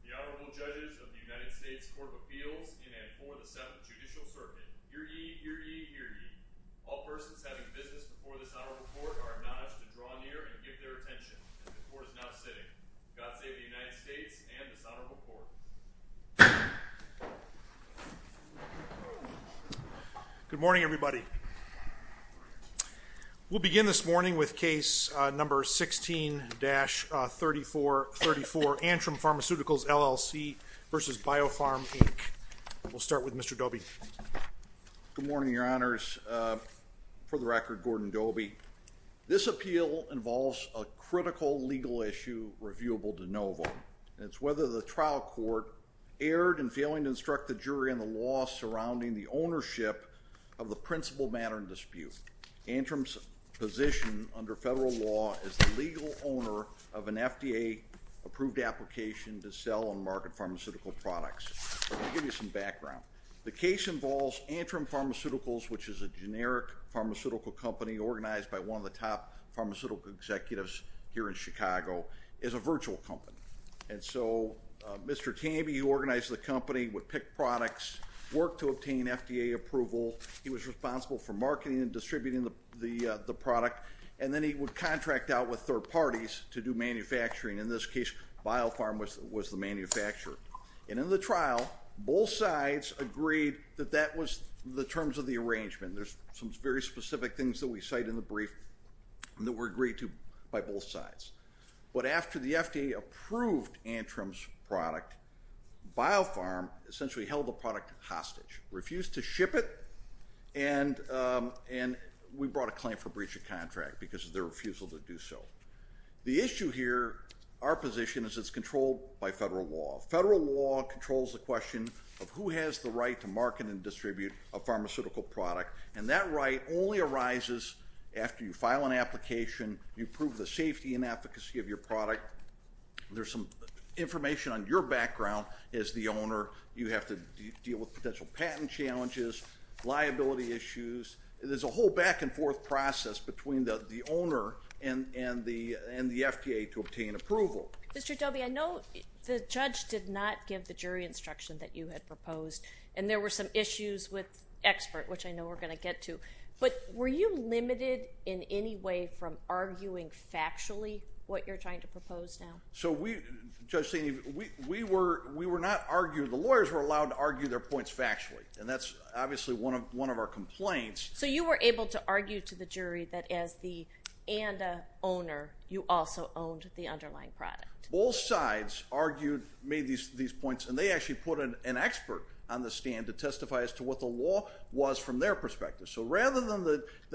The Honorable Judges of the United States Court of Appeals in and for the Seventh Judicial Circuit. Hear ye, hear ye, hear ye. All persons having business before this Honorable Court are acknowledged to draw near and give their attention as the Court is now sitting. God save the United States and this Honorable Court. Good morning, everybody. We'll begin this morning with case number 16-3434, Antrim Pharmaceuticals, LLC v. BioPharm, Inc. We'll start with Mr. Dobie. Good morning, Your Honors. For the record, Gordon Dobie. This appeal involves a critical legal issue reviewable de novo. It's whether the trial court erred in failing to instruct the jury on the law surrounding the ownership of the principal matter in dispute. Antrim's position under federal law is the legal owner of an FDA-approved application to sell and market pharmaceutical products. Let me give you some background. The case involves Antrim Pharmaceuticals, which is a generic pharmaceutical company organized by one of the top pharmaceutical executives here in Chicago. It's a virtual company. And so Mr. Tamby, who organized the company, would pick products, work to obtain FDA approval. He was responsible for marketing and distributing the product. And then he would contract out with third parties to do manufacturing. In this case, BioPharm was the manufacturer. And in the trial, both sides agreed that that was the terms of the arrangement. There's some very specific things that we cite in the brief that were agreed to by both sides. But after the FDA approved Antrim's product, BioPharm essentially held the product hostage, refused to ship it, and we brought a claim for breach of contract because of their refusal to do so. The issue here, our position, is it's controlled by federal law. Federal law controls the question of who has the right to market and distribute a pharmaceutical product. And that right only arises after you file an application, you prove the safety and efficacy of your product. There's some information on your background as the owner. You have to deal with potential patent challenges, liability issues. There's a whole back-and-forth process between the owner and the FDA to obtain approval. Mr. Dobie, I know the judge did not give the jury instruction that you had proposed, and there were some issues with expert, which I know we're going to get to. But were you limited in any way from arguing factually what you're trying to propose now? So we, Judge Steeny, we were not arguing. The lawyers were allowed to argue their points factually, and that's obviously one of our complaints. So you were able to argue to the jury that as the ANDA owner, you also owned the underlying product. Both sides argued, made these points, and they actually put an expert on the stand to testify as to what the law was from their perspective. So rather than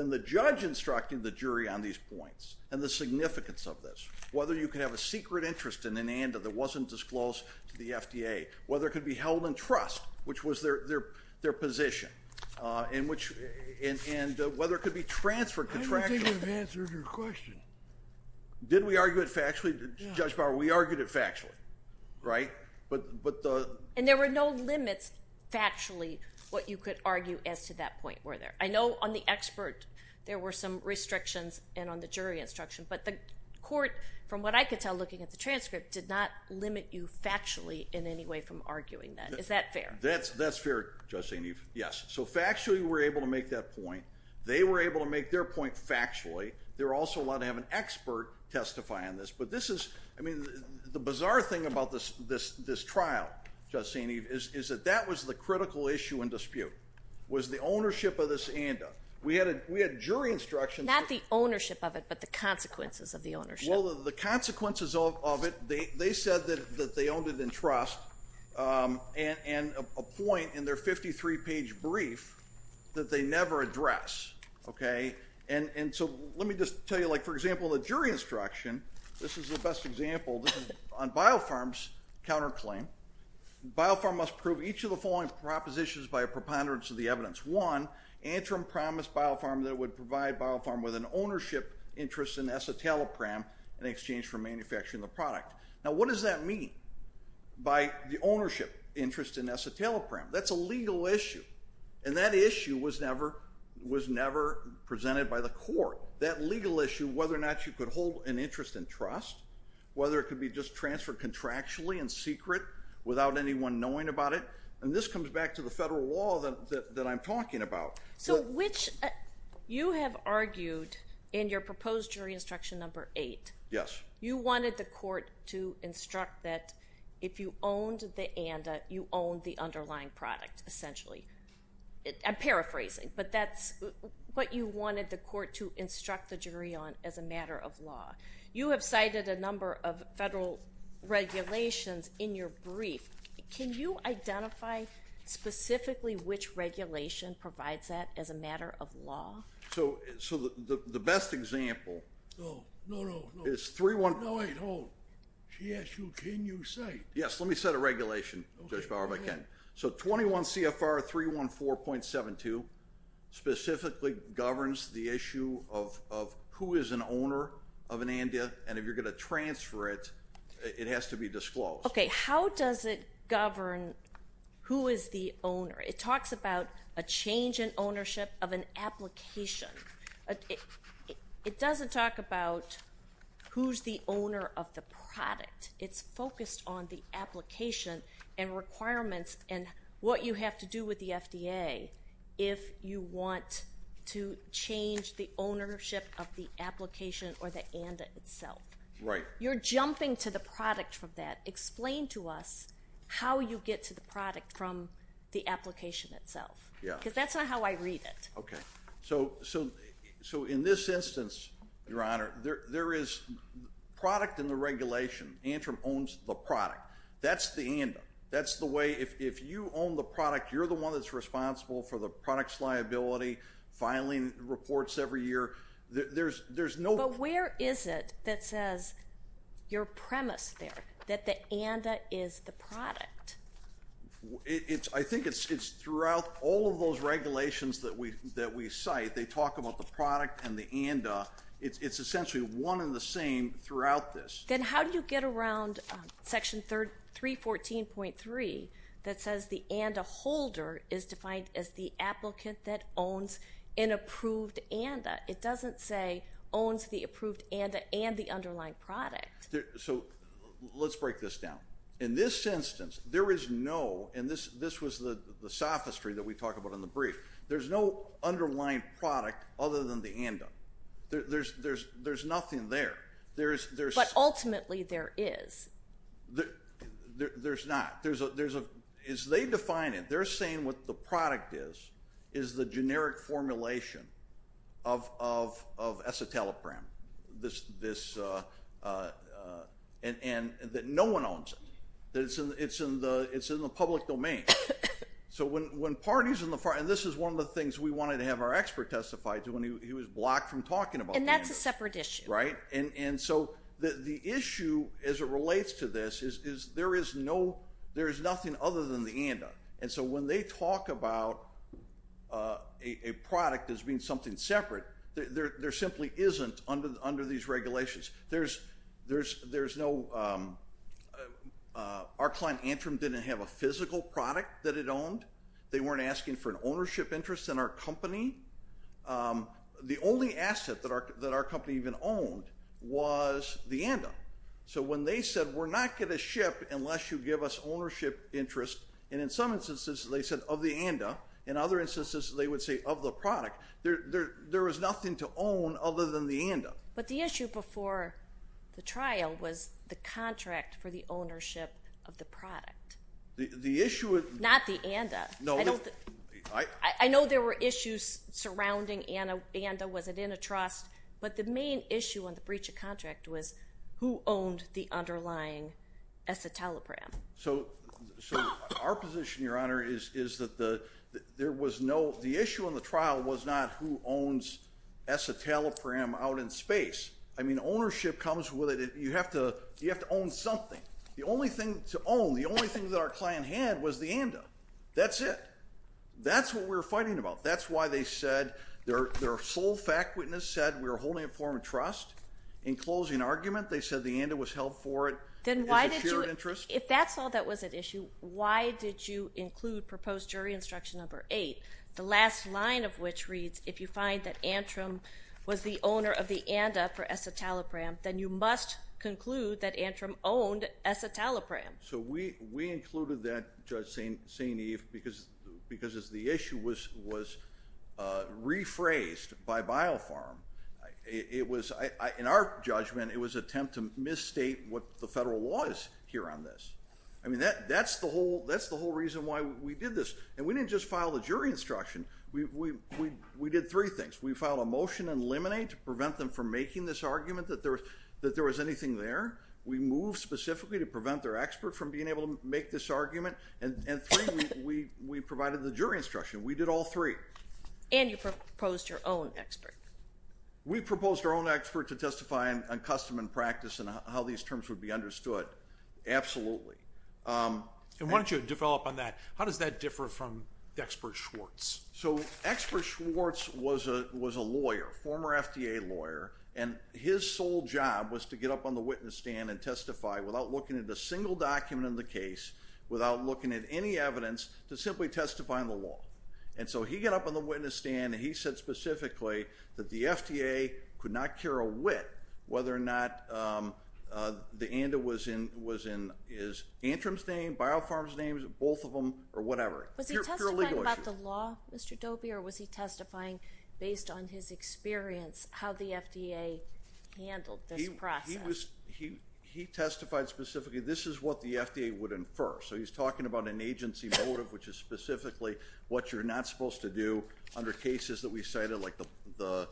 the judge instructing the jury on these points and the significance of this, whether you could have a secret interest in an ANDA that wasn't disclosed to the FDA, whether it could be held in trust, which was their position, and whether it could be transferred contractually. I don't think we've answered your question. Did we argue it factually, Judge Bauer? We argued it factually, right? And there were no limits factually what you could argue as to that point, were there? I know on the expert there were some restrictions and on the jury instruction, but the court, from what I could tell looking at the transcript, did not limit you factually in any way from arguing that. Is that fair? That's fair, Judge St. Eve, yes. So factually we were able to make that point. They were able to make their point factually. They were also allowed to have an expert testify on this. But this is, I mean, the bizarre thing about this trial, Judge St. Eve, is that that was the critical issue in dispute, was the ownership of this ANDA. We had jury instruction. Not the ownership of it, but the consequences of the ownership. Well, the consequences of it, they said that they owned it in trust, and a point in their 53-page brief that they never address, okay? And so let me just tell you, like, for example, the jury instruction, this is the best example. This is on BioPharm's counterclaim. BioPharm must prove each of the following propositions by a preponderance of the evidence. One, Antrim promised BioPharm that it would provide BioPharm with an ownership interest in escitalopram in exchange for manufacturing the product. Now, what does that mean by the ownership interest in escitalopram? That's a legal issue, and that issue was never presented by the court. That legal issue, whether or not you could hold an interest in trust, whether it could be just transferred contractually in secret without anyone knowing about it, and this comes back to the federal law that I'm talking about. So which you have argued in your proposed jury instruction number 8. Yes. You wanted the court to instruct that if you owned the ANDA, you owned the underlying product, essentially. I'm paraphrasing, but that's what you wanted the court to instruct the jury on as a matter of law. You have cited a number of federal regulations in your brief. Can you identify specifically which regulation provides that as a matter of law? So the best example is 3-1- No, wait, hold. She asked you can you cite. Yes, let me cite a regulation, Judge Bauer, if I can. So 21 CFR 314.72 specifically governs the issue of who is an owner of an ANDA, and if you're going to transfer it, it has to be disclosed. Okay, how does it govern who is the owner? It talks about a change in ownership of an application. It doesn't talk about who's the owner of the product. It's focused on the application and requirements and what you have to do with the FDA if you want to change the ownership of the application or the ANDA itself. Right. You're jumping to the product from that. Explain to us how you get to the product from the application itself. Yeah. Because that's not how I read it. Okay. So in this instance, Your Honor, there is product in the regulation. Antrim owns the product. That's the ANDA. That's the way if you own the product, you're the one that's responsible for the product's liability, filing reports every year. But where is it that says your premise there, that the ANDA is the product? I think it's throughout all of those regulations that we cite. They talk about the product and the ANDA. It's essentially one and the same throughout this. Then how do you get around Section 314.3 that says the ANDA holder is defined as the applicant that owns an approved ANDA? It doesn't say owns the approved ANDA and the underlying product. So let's break this down. In this instance, there is no, and this was the sophistry that we talked about in the brief, there's no underlying product other than the ANDA. There's nothing there. But ultimately there is. There's not. They define it. They're saying what the product is is the generic formulation of escitalopram, and that no one owns it. It's in the public domain. So when parties in the, and this is one of the things we wanted to have our expert testify to when he was blocked from talking about the ANDA. And that's a separate issue. Right. And so the issue as it relates to this is there is no, there is nothing other than the ANDA. And so when they talk about a product as being something separate, there simply isn't under these regulations. There's no, our client Antrim didn't have a physical product that it owned. They weren't asking for an ownership interest in our company. The only asset that our company even owned was the ANDA. So when they said we're not going to ship unless you give us ownership interest, and in some instances they said of the ANDA. In other instances they would say of the product. There is nothing to own other than the ANDA. But the issue before the trial was the contract for the ownership of the product. The issue. Not the ANDA. No. I know there were issues surrounding ANDA. Was it in a trust? But the main issue on the breach of contract was who owned the underlying Esitalopram. So our position, Your Honor, is that there was no, the issue on the trial was not who owns Esitalopram out in space. I mean, ownership comes with it. You have to own something. The only thing to own, the only thing that our client had was the ANDA. That's it. That's what we were fighting about. That's why they said, their sole fact witness said, we were holding it for a trust. In closing argument, they said the ANDA was held for it as a shared interest. Then why did you, if that's all that was at issue, why did you include proposed jury instruction number eight, the last line of which reads, if you find that Antrim was the owner of the ANDA for Esitalopram, then you must conclude that Antrim owned Esitalopram. So we included that, Judge St. Eve, because as the issue was rephrased by BioPharm, it was, in our judgment, it was an attempt to misstate what the federal law is here on this. I mean, that's the whole reason why we did this. And we didn't just file the jury instruction. We did three things. We filed a motion to eliminate, to prevent them from making this argument that there was anything there. We moved specifically to prevent their expert from being able to make this argument. And three, we provided the jury instruction. We did all three. And you proposed your own expert. We proposed our own expert to testify on custom and practice and how these terms would be understood. Absolutely. And why don't you develop on that. How does that differ from the expert Schwartz? So expert Schwartz was a lawyer, former FDA lawyer, and his sole job was to get up on the witness stand and testify without looking at a single document in the case, without looking at any evidence, to simply testify on the law. And so he got up on the witness stand, and he said specifically that the FDA could not carry a wit whether or not the ANDA was in Antrim's name, BioPharm's name, both of them, or whatever. Was he testifying about the law, Mr. Dobie, or was he testifying based on his experience, how the FDA handled this process? He testified specifically, this is what the FDA would infer. So he's talking about an agency motive, which is specifically what you're not supposed to do under cases that we cited, like the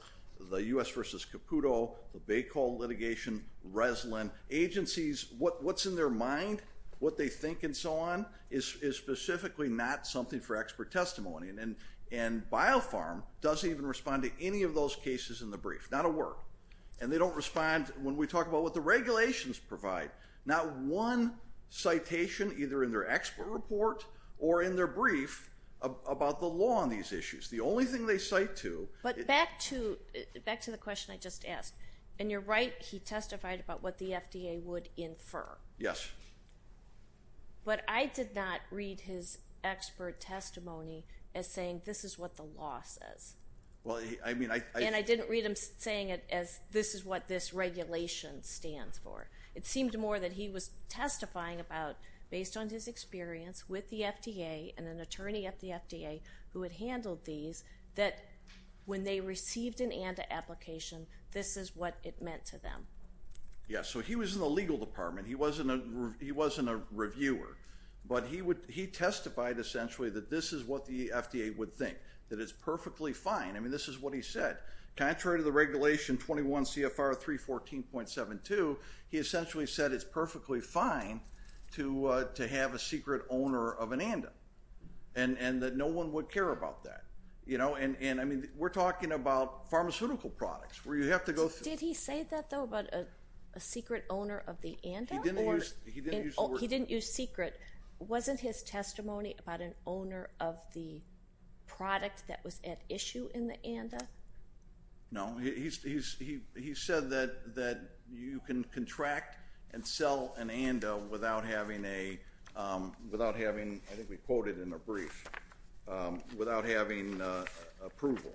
U.S. v. Caputo, the Bay Coal litigation, Reslin. Agencies, what's in their mind, what they think, and so on, is specifically not something for expert testimony. And BioPharm doesn't even respond to any of those cases in the brief, not a word. And they don't respond, when we talk about what the regulations provide, not one citation, either in their expert report or in their brief, about the law on these issues. The only thing they cite to – But back to the question I just asked. And you're right, he testified about what the FDA would infer. Yes. But I did not read his expert testimony as saying, this is what the law says. And I didn't read him saying it as, this is what this regulation stands for. It seemed more that he was testifying about, based on his experience with the FDA and an attorney at the FDA who had handled these, that when they received an ANDA application, this is what it meant to them. Yes, so he was in the legal department. He wasn't a reviewer. But he testified, essentially, that this is what the FDA would think, that it's perfectly fine. I mean, this is what he said. Contrary to the regulation 21 CFR 314.72, he essentially said it's perfectly fine to have a secret owner of an ANDA and that no one would care about that. I mean, we're talking about pharmaceutical products. Did he say that, though, about a secret owner of the ANDA? He didn't use secret. Wasn't his testimony about an owner of the product that was at issue in the ANDA? No. He said that you can contract and sell an ANDA without having a, without having, I think we quoted in a brief, without having approval.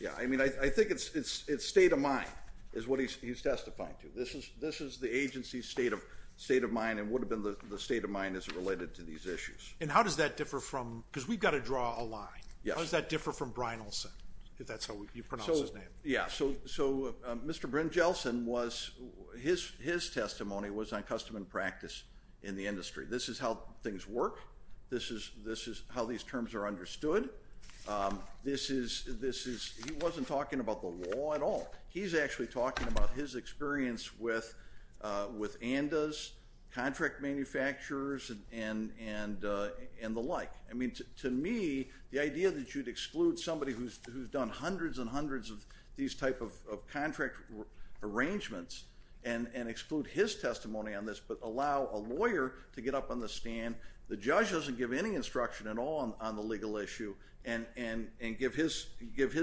Yeah, I mean, I think it's state of mind is what he's testifying to. This is the agency's state of mind and would have been the state of mind as it related to these issues. And how does that differ from, because we've got to draw a line, how does that differ from Brynjolfsson, if that's how you pronounce his name? Yeah, so Mr. Brynjolfsson was, his testimony was on custom and practice in the industry. This is how things work. This is how these terms are understood. This is, he wasn't talking about the law at all. He's actually talking about his experience with ANDAs, contract manufacturers, and the like. I mean, to me, the idea that you'd exclude somebody who's done hundreds and hundreds of these type of contract arrangements and exclude his testimony on this but allow a lawyer to get up on the stand, the judge doesn't give any instruction at all on the legal issue and give his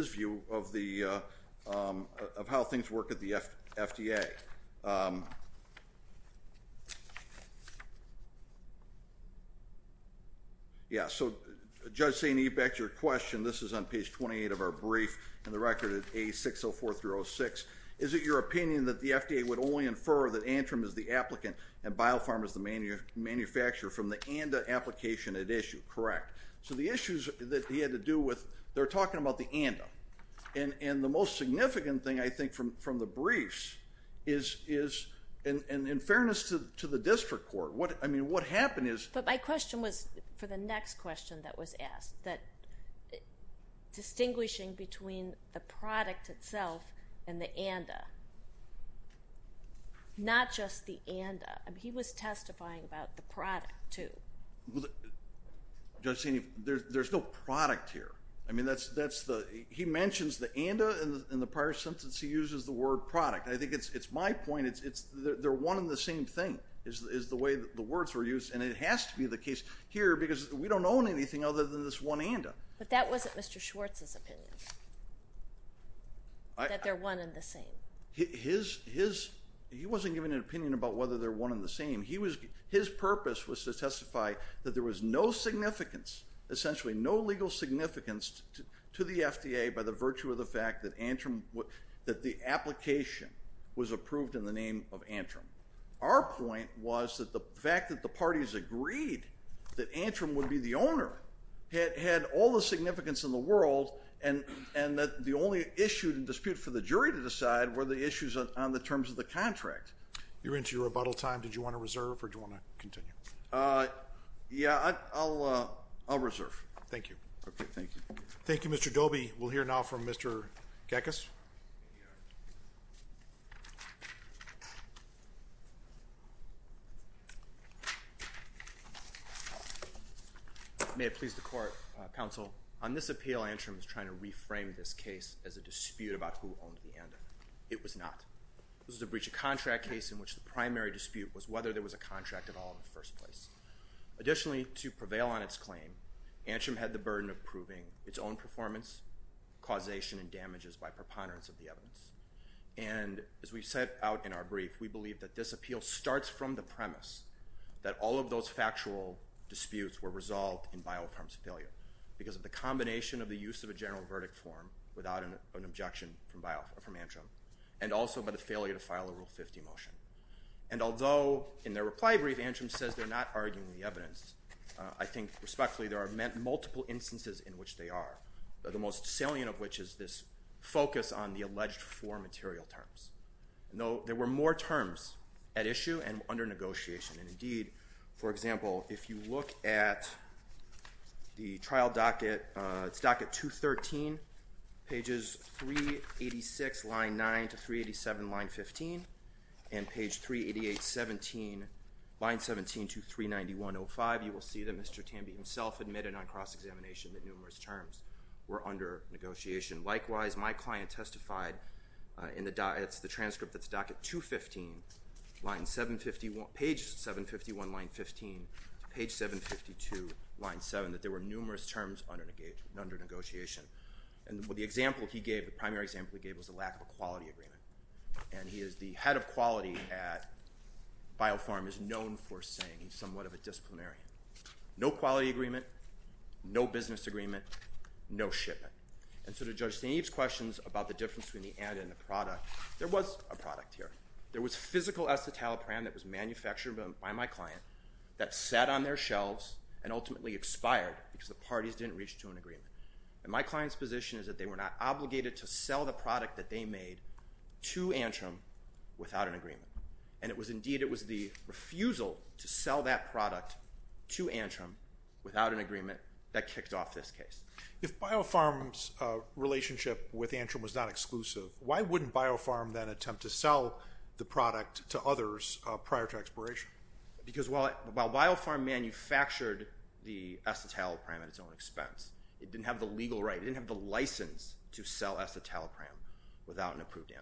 view of how things work at the FDA. Yeah, so Judge St. Ebeck, your question, this is on page 28 of our brief, and the record is A604-06. Is it your opinion that the FDA would only infer that Antrim is the applicant and BioPharm is the manufacturer from the ANDA application at issue? Correct. So the issues that he had to do with, they're talking about the ANDA. And the most significant thing, I think, from the briefs is, in fairness to the district court, I mean, what happened is – But my question was for the next question that was asked, that distinguishing between the product itself and the ANDA, not just the ANDA. I mean, he was testifying about the product too. Judge St. Ebeck, there's no product here. I mean, he mentions the ANDA, and in the prior sentence he uses the word product. I think it's my point, they're one and the same thing is the way the words were used, and it has to be the case here because we don't own anything other than this one ANDA. But that wasn't Mr. Schwartz's opinion, that they're one and the same. He wasn't giving an opinion about whether they're one and the same. His purpose was to testify that there was no significance, essentially no legal significance to the FDA by the virtue of the fact that Antrim – that the application was approved in the name of Antrim. Our point was that the fact that the parties agreed that Antrim would be the owner had all the significance in the world, and that the only issue in dispute for the jury to decide were the issues on the terms of the contract. You're into your rebuttal time. Did you want to reserve or do you want to continue? Yeah, I'll reserve. Thank you. Okay, thank you. Thank you, Mr. Doby. We'll hear now from Mr. Gekas. May it please the Court, Counsel, on this appeal Antrim is trying to reframe this case as a dispute about who owned the ANDA. It was not. This was a breach of contract case in which the primary dispute was whether there was a contract at all in the first place. Additionally, to prevail on its claim, Antrim had the burden of proving its own performance, causation, and damages by preponderance of the evidence. And as we set out in our brief, we believe that this appeal starts from the premise that all of those factual disputes were resolved in bioinforms failure because of the combination of the use of a general verdict form without an objection from Antrim and also by the failure to file a Rule 50 motion. And although in their reply brief Antrim says they're not arguing the evidence, I think respectfully there are multiple instances in which they are, the most salient of which is this focus on the alleged four material terms. There were more terms at issue and under negotiation. And indeed, for example, if you look at the trial docket, it's docket 213, pages 386, line 9 to 387, line 15, and page 388, 17, line 17 to 391.05, you will see that Mr. Tambi himself admitted on cross-examination that numerous terms were under negotiation. Likewise, my client testified in the transcript that's docket 215, page 751, line 15, to page 752, line 7, that there were numerous terms under negotiation. And the example he gave, the primary example he gave, was the lack of a quality agreement. And he is the head of quality at BioPharm, is known for saying he's somewhat of a disciplinarian. No quality agreement, no business agreement, no shipment. And so to Judge Steneve's questions about the difference between the ad and the product, there was a product here. There was physical acetalapram that was manufactured by my client that sat on their shelves and ultimately expired because the parties didn't reach to an agreement. And my client's position is that they were not obligated to sell the product that they made to Antrim without an agreement. And indeed, it was the refusal to sell that product to Antrim without an agreement that kicked off this case. If BioPharm's relationship with Antrim was not exclusive, why wouldn't BioPharm then attempt to sell the product to others prior to expiration? Because while BioPharm manufactured the acetalapram at its own expense, it didn't have the legal right, it didn't have the license to sell acetalapram without an approved ad.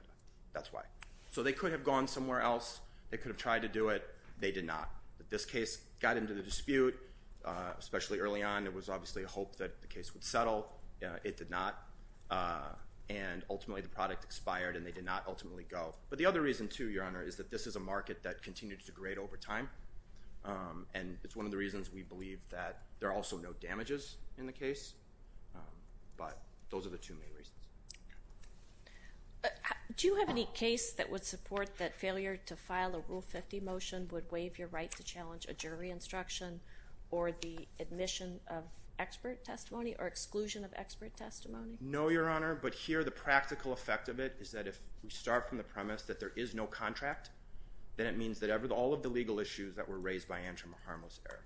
That's why. So they could have gone somewhere else. They could have tried to do it. They did not. But this case got into the dispute, especially early on. There was obviously hope that the case would settle. It did not. But the other reason, too, Your Honor, is that this is a market that continues to degrade over time. And it's one of the reasons we believe that there are also no damages in the case. But those are the two main reasons. Do you have any case that would support that failure to file a Rule 50 motion would waive your right to challenge a jury instruction or the admission of expert testimony or exclusion of expert testimony? No, Your Honor. If you start from the premise that there is no contract, then it means that all of the legal issues that were raised by Antrim are harmless error.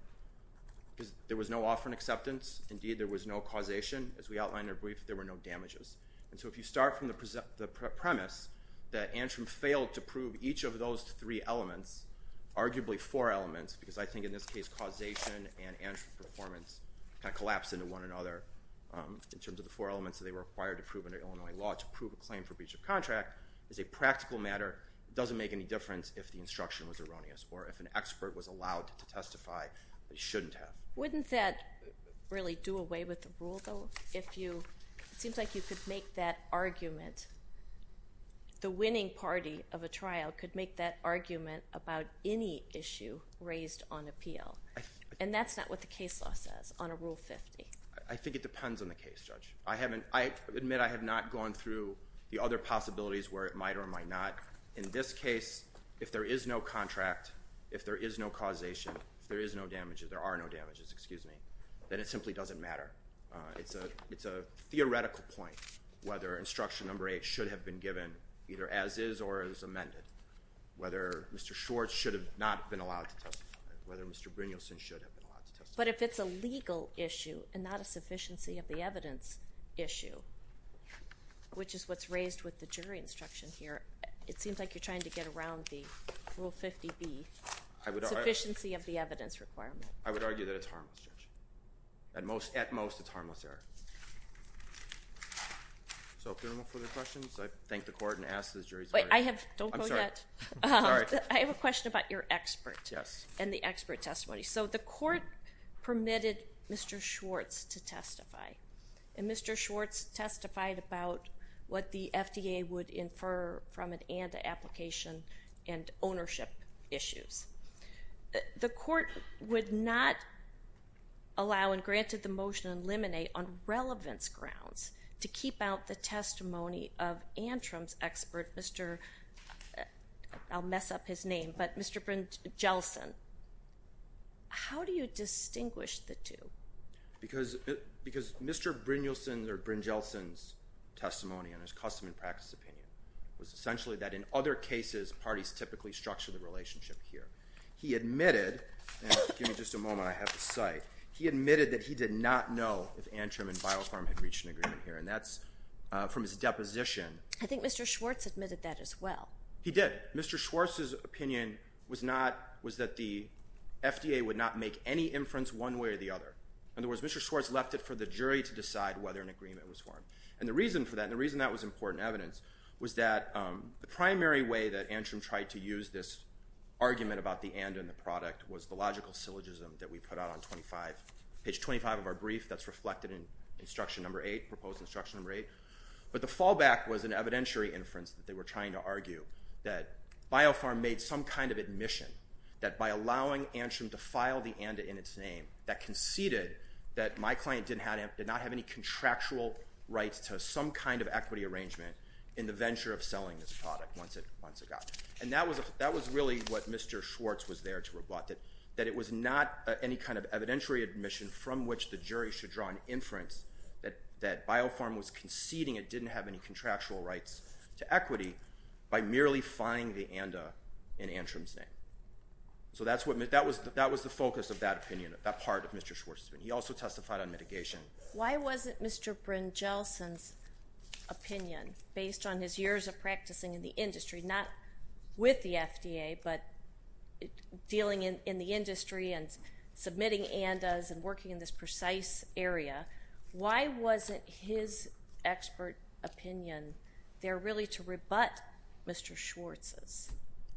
There was no offer and acceptance. Indeed, there was no causation. As we outlined in our brief, there were no damages. And so if you start from the premise that Antrim failed to prove each of those three elements, arguably four elements, because I think in this case causation and Antrim performance kind of collapsed into one another in terms of the four elements that they were required to prove under Illinois law to prove a claim for breach of contract is a practical matter. It doesn't make any difference if the instruction was erroneous or if an expert was allowed to testify, but he shouldn't have. Wouldn't that really do away with the rule, though? It seems like you could make that argument. The winning party of a trial could make that argument about any issue raised on appeal. And that's not what the case law says on a Rule 50. I think it depends on the case, Judge. I admit I have not gone through the other possibilities where it might or might not. In this case, if there is no contract, if there is no causation, if there are no damages, then it simply doesn't matter. It's a theoretical point whether instruction number 8 should have been given either as is or as amended, whether Mr. Schwartz should have not been allowed to testify, but if it's a legal issue and not a sufficiency of the evidence issue, which is what's raised with the jury instruction here, it seems like you're trying to get around the Rule 50B, sufficiency of the evidence requirement. I would argue that it's harmless, Judge. At most, it's harmless error. So if there are no further questions, I thank the Court and ask the jury to vote. I have a question about your expert and the expert testimony. So the Court permitted Mr. Schwartz to testify, and Mr. Schwartz testified about what the FDA would infer from an ANTA application and ownership issues. The Court would not allow and granted the motion and eliminate on relevance grounds to keep out the testimony of Antrim's expert, I'll mess up his name, but Mr. Brynjelsen. How do you distinguish the two? Because Mr. Brynjelsen's testimony and his custom and practice opinion was essentially that in other cases, parties typically structure the relationship here. He admitted, and give me just a moment, I have the site. He admitted that he did not know if Antrim and BioPharm had reached an agreement here, and that's from his deposition. I think Mr. Schwartz admitted that as well. He did. Mr. Schwartz's opinion was that the FDA would not make any inference one way or the other. In other words, Mr. Schwartz left it for the jury to decide whether an agreement was formed. And the reason for that, and the reason that was important evidence, was that the primary way that Antrim tried to use this argument about the ANTA and the product was the logical syllogism that we put out on page 25 of our brief that's reflected in instruction number 8, proposed instruction number 8. But the fallback was an evidentiary inference that they were trying to argue, that BioPharm made some kind of admission that by allowing Antrim to file the ANTA in its name, that conceded that my client did not have any contractual rights to some kind of equity arrangement in the venture of selling this product once it got there. And that was really what Mr. Schwartz was there to rebut, that it was not any kind of evidentiary admission from which the jury should draw an inference that BioPharm was conceding it didn't have any contractual rights to equity by merely filing the ANTA in Antrim's name. So that was the focus of that opinion, that part of Mr. Schwartz's opinion. He also testified on mitigation. Why wasn't Mr. Brynjolfsson's opinion, based on his years of practicing in the industry, not with the FDA but dealing in the industry and submitting ANTAs and working in this precise area, why wasn't his expert opinion there really to rebut Mr. Schwartz's?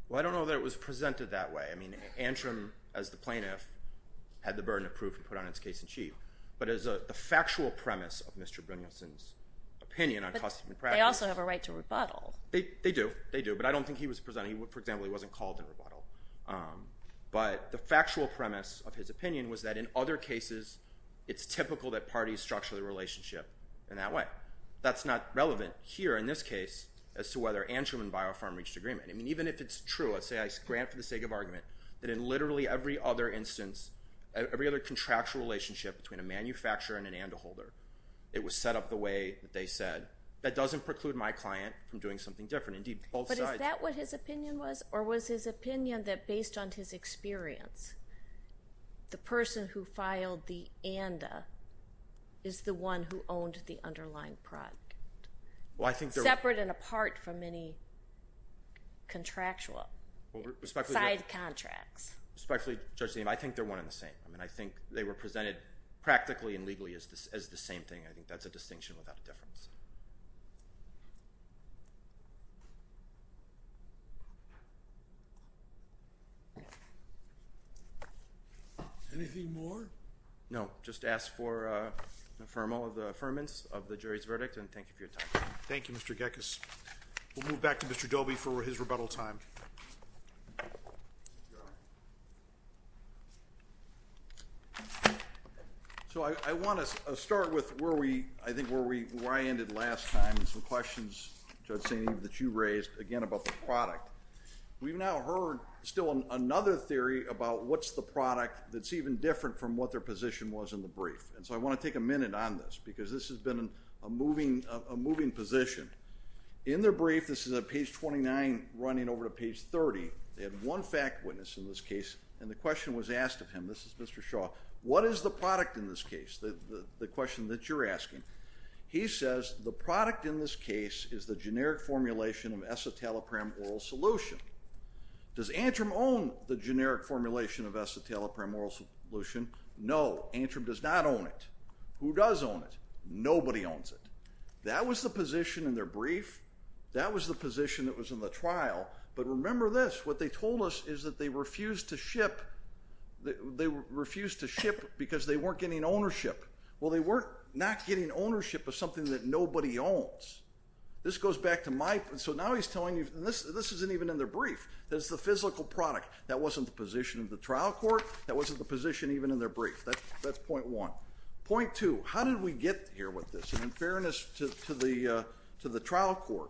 Well, I don't know that it was presented that way. I mean, Antrim, as the plaintiff, had the burden of proof to put on its case in chief. But as the factual premise of Mr. Brynjolfsson's opinion on cost of practice. But they also have a right to rebuttal. They do. They do. But I don't think he was presenting. For example, he wasn't called in rebuttal. But the factual premise of his opinion was that in other cases, it's typical that parties structure the relationship in that way. That's not relevant here in this case as to whether Antrim and BioPharm reached agreement. I mean, even if it's true, let's say I grant for the sake of argument, that in literally every other instance, every other contractual relationship between a manufacturer and an ANTA holder, it was set up the way that they said. That doesn't preclude my client from doing something different. But is that what his opinion was? Or was his opinion that based on his experience, the person who filed the ANTA is the one who owned the underlying product? Separate and apart from any contractual side contracts. Respectfully, Judge, I think they're one and the same. I think they were presented practically and legally as the same thing. I think that's a distinction without a difference. Anything more? No. Just ask for the affirmance of the jury's verdict, and thank you for your time. Thank you, Mr. Gekas. We'll move back to Mr. Dobie for his rebuttal time. So I want to start with where I ended last time, and some questions, Judge St. Eve, that you raised, again, about the product. We've now heard still another theory about what's the product that's even different from what their position was in the brief. And so I want to take a minute on this, because this has been a moving position. In their brief, this is at page 29, running over to page 30, they had one fact witness in this case, and the question was asked of him. This is Mr. Shaw. What is the product in this case, the question that you're asking? He says the product in this case is the generic formulation of escitalopram oral solution. Does Antrim own the generic formulation of escitalopram oral solution? No, Antrim does not own it. Who does own it? Nobody owns it. That was the position in their brief. That was the position that was in the trial. But remember this, what they told us is that they refused to ship because they weren't getting ownership. Well, they weren't not getting ownership of something that nobody owns. So now he's telling you, and this isn't even in their brief, that it's the physical product. That wasn't the position of the trial court. That wasn't the position even in their brief. That's point one. Point two, how did we get here with this? And in fairness to the trial court,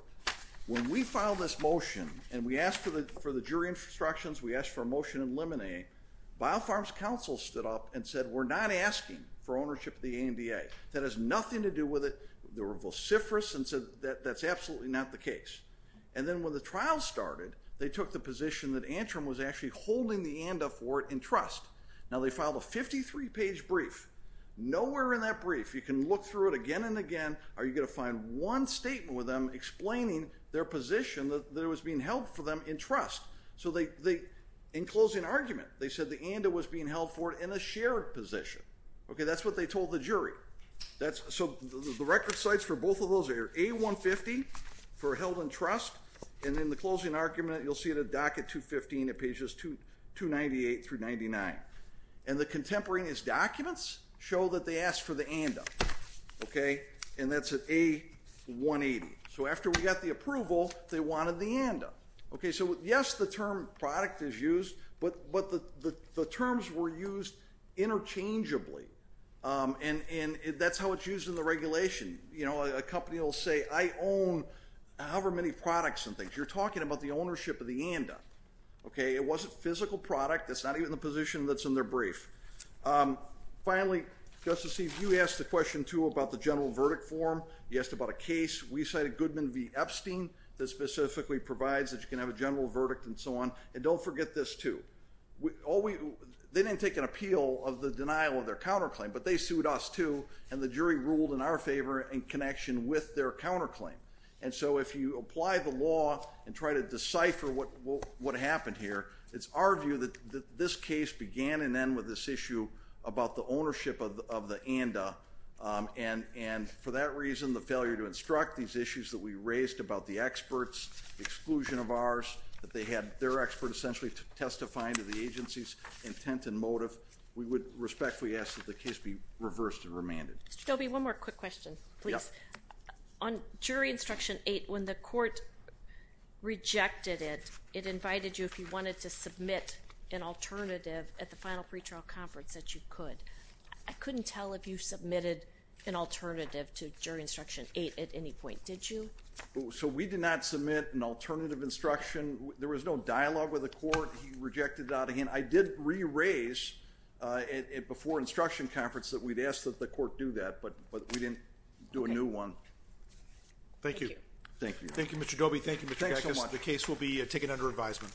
when we filed this motion and we asked for the jury instructions, we asked for a motion to eliminate, BioPharm's counsel stood up and said, we're not asking for ownership of the ANDA. That has nothing to do with it. They were vociferous and said that's absolutely not the case. And then when the trial started, they took the position that Antrim was actually holding the ANDA for it in trust. Now they filed a 53-page brief. Nowhere in that brief, you can look through it again and again, are you going to find one statement with them explaining their position that it was being held for them in trust. So in closing argument, they said the ANDA was being held for it in a shared position. That's what they told the jury. So the record sites for both of those are A150 for held in trust. And in the closing argument, you'll see it at docket 215 at pages 298 through 99. And the contemporary in his documents show that they asked for the ANDA. And that's at A180. So after we got the approval, they wanted the ANDA. Okay, so yes, the term product is used, but the terms were used interchangeably. And that's how it's used in the regulation. You know, a company will say I own however many products and things. You're talking about the ownership of the ANDA. Okay, it wasn't physical product. That's not even the position that's in their brief. Finally, Justice Steve, you asked the question too about the general verdict form. You asked about a case. We cited Goodman v. Epstein that specifically provides that you can have a general verdict and so on. And don't forget this too. They didn't take an appeal of the denial of their counterclaim, but they sued us too. And the jury ruled in our favor in connection with their counterclaim. And so if you apply the law and try to decipher what happened here, it's our view that this case began and end with this issue about the ownership of the ANDA. And for that reason, the failure to instruct these issues that we raised about the experts, exclusion of ours, that they had their expert essentially testifying to the agency's intent and motive, we would respectfully ask that the case be reversed and remanded. Mr. Dobie, one more quick question, please. On jury instruction eight, when the court rejected it, it invited you if you wanted to submit an alternative at the final pretrial conference that you could. I couldn't tell if you submitted an alternative to jury instruction eight at any point. Did you? So we did not submit an alternative instruction. There was no dialogue with the court. He rejected it out of hand. I did re-raise it before instruction conference that we'd asked that the court do that, but we didn't do a new one. Thank you. Thank you. Thank you, Mr. Dobie. Thank you. The case will be taken under advisement.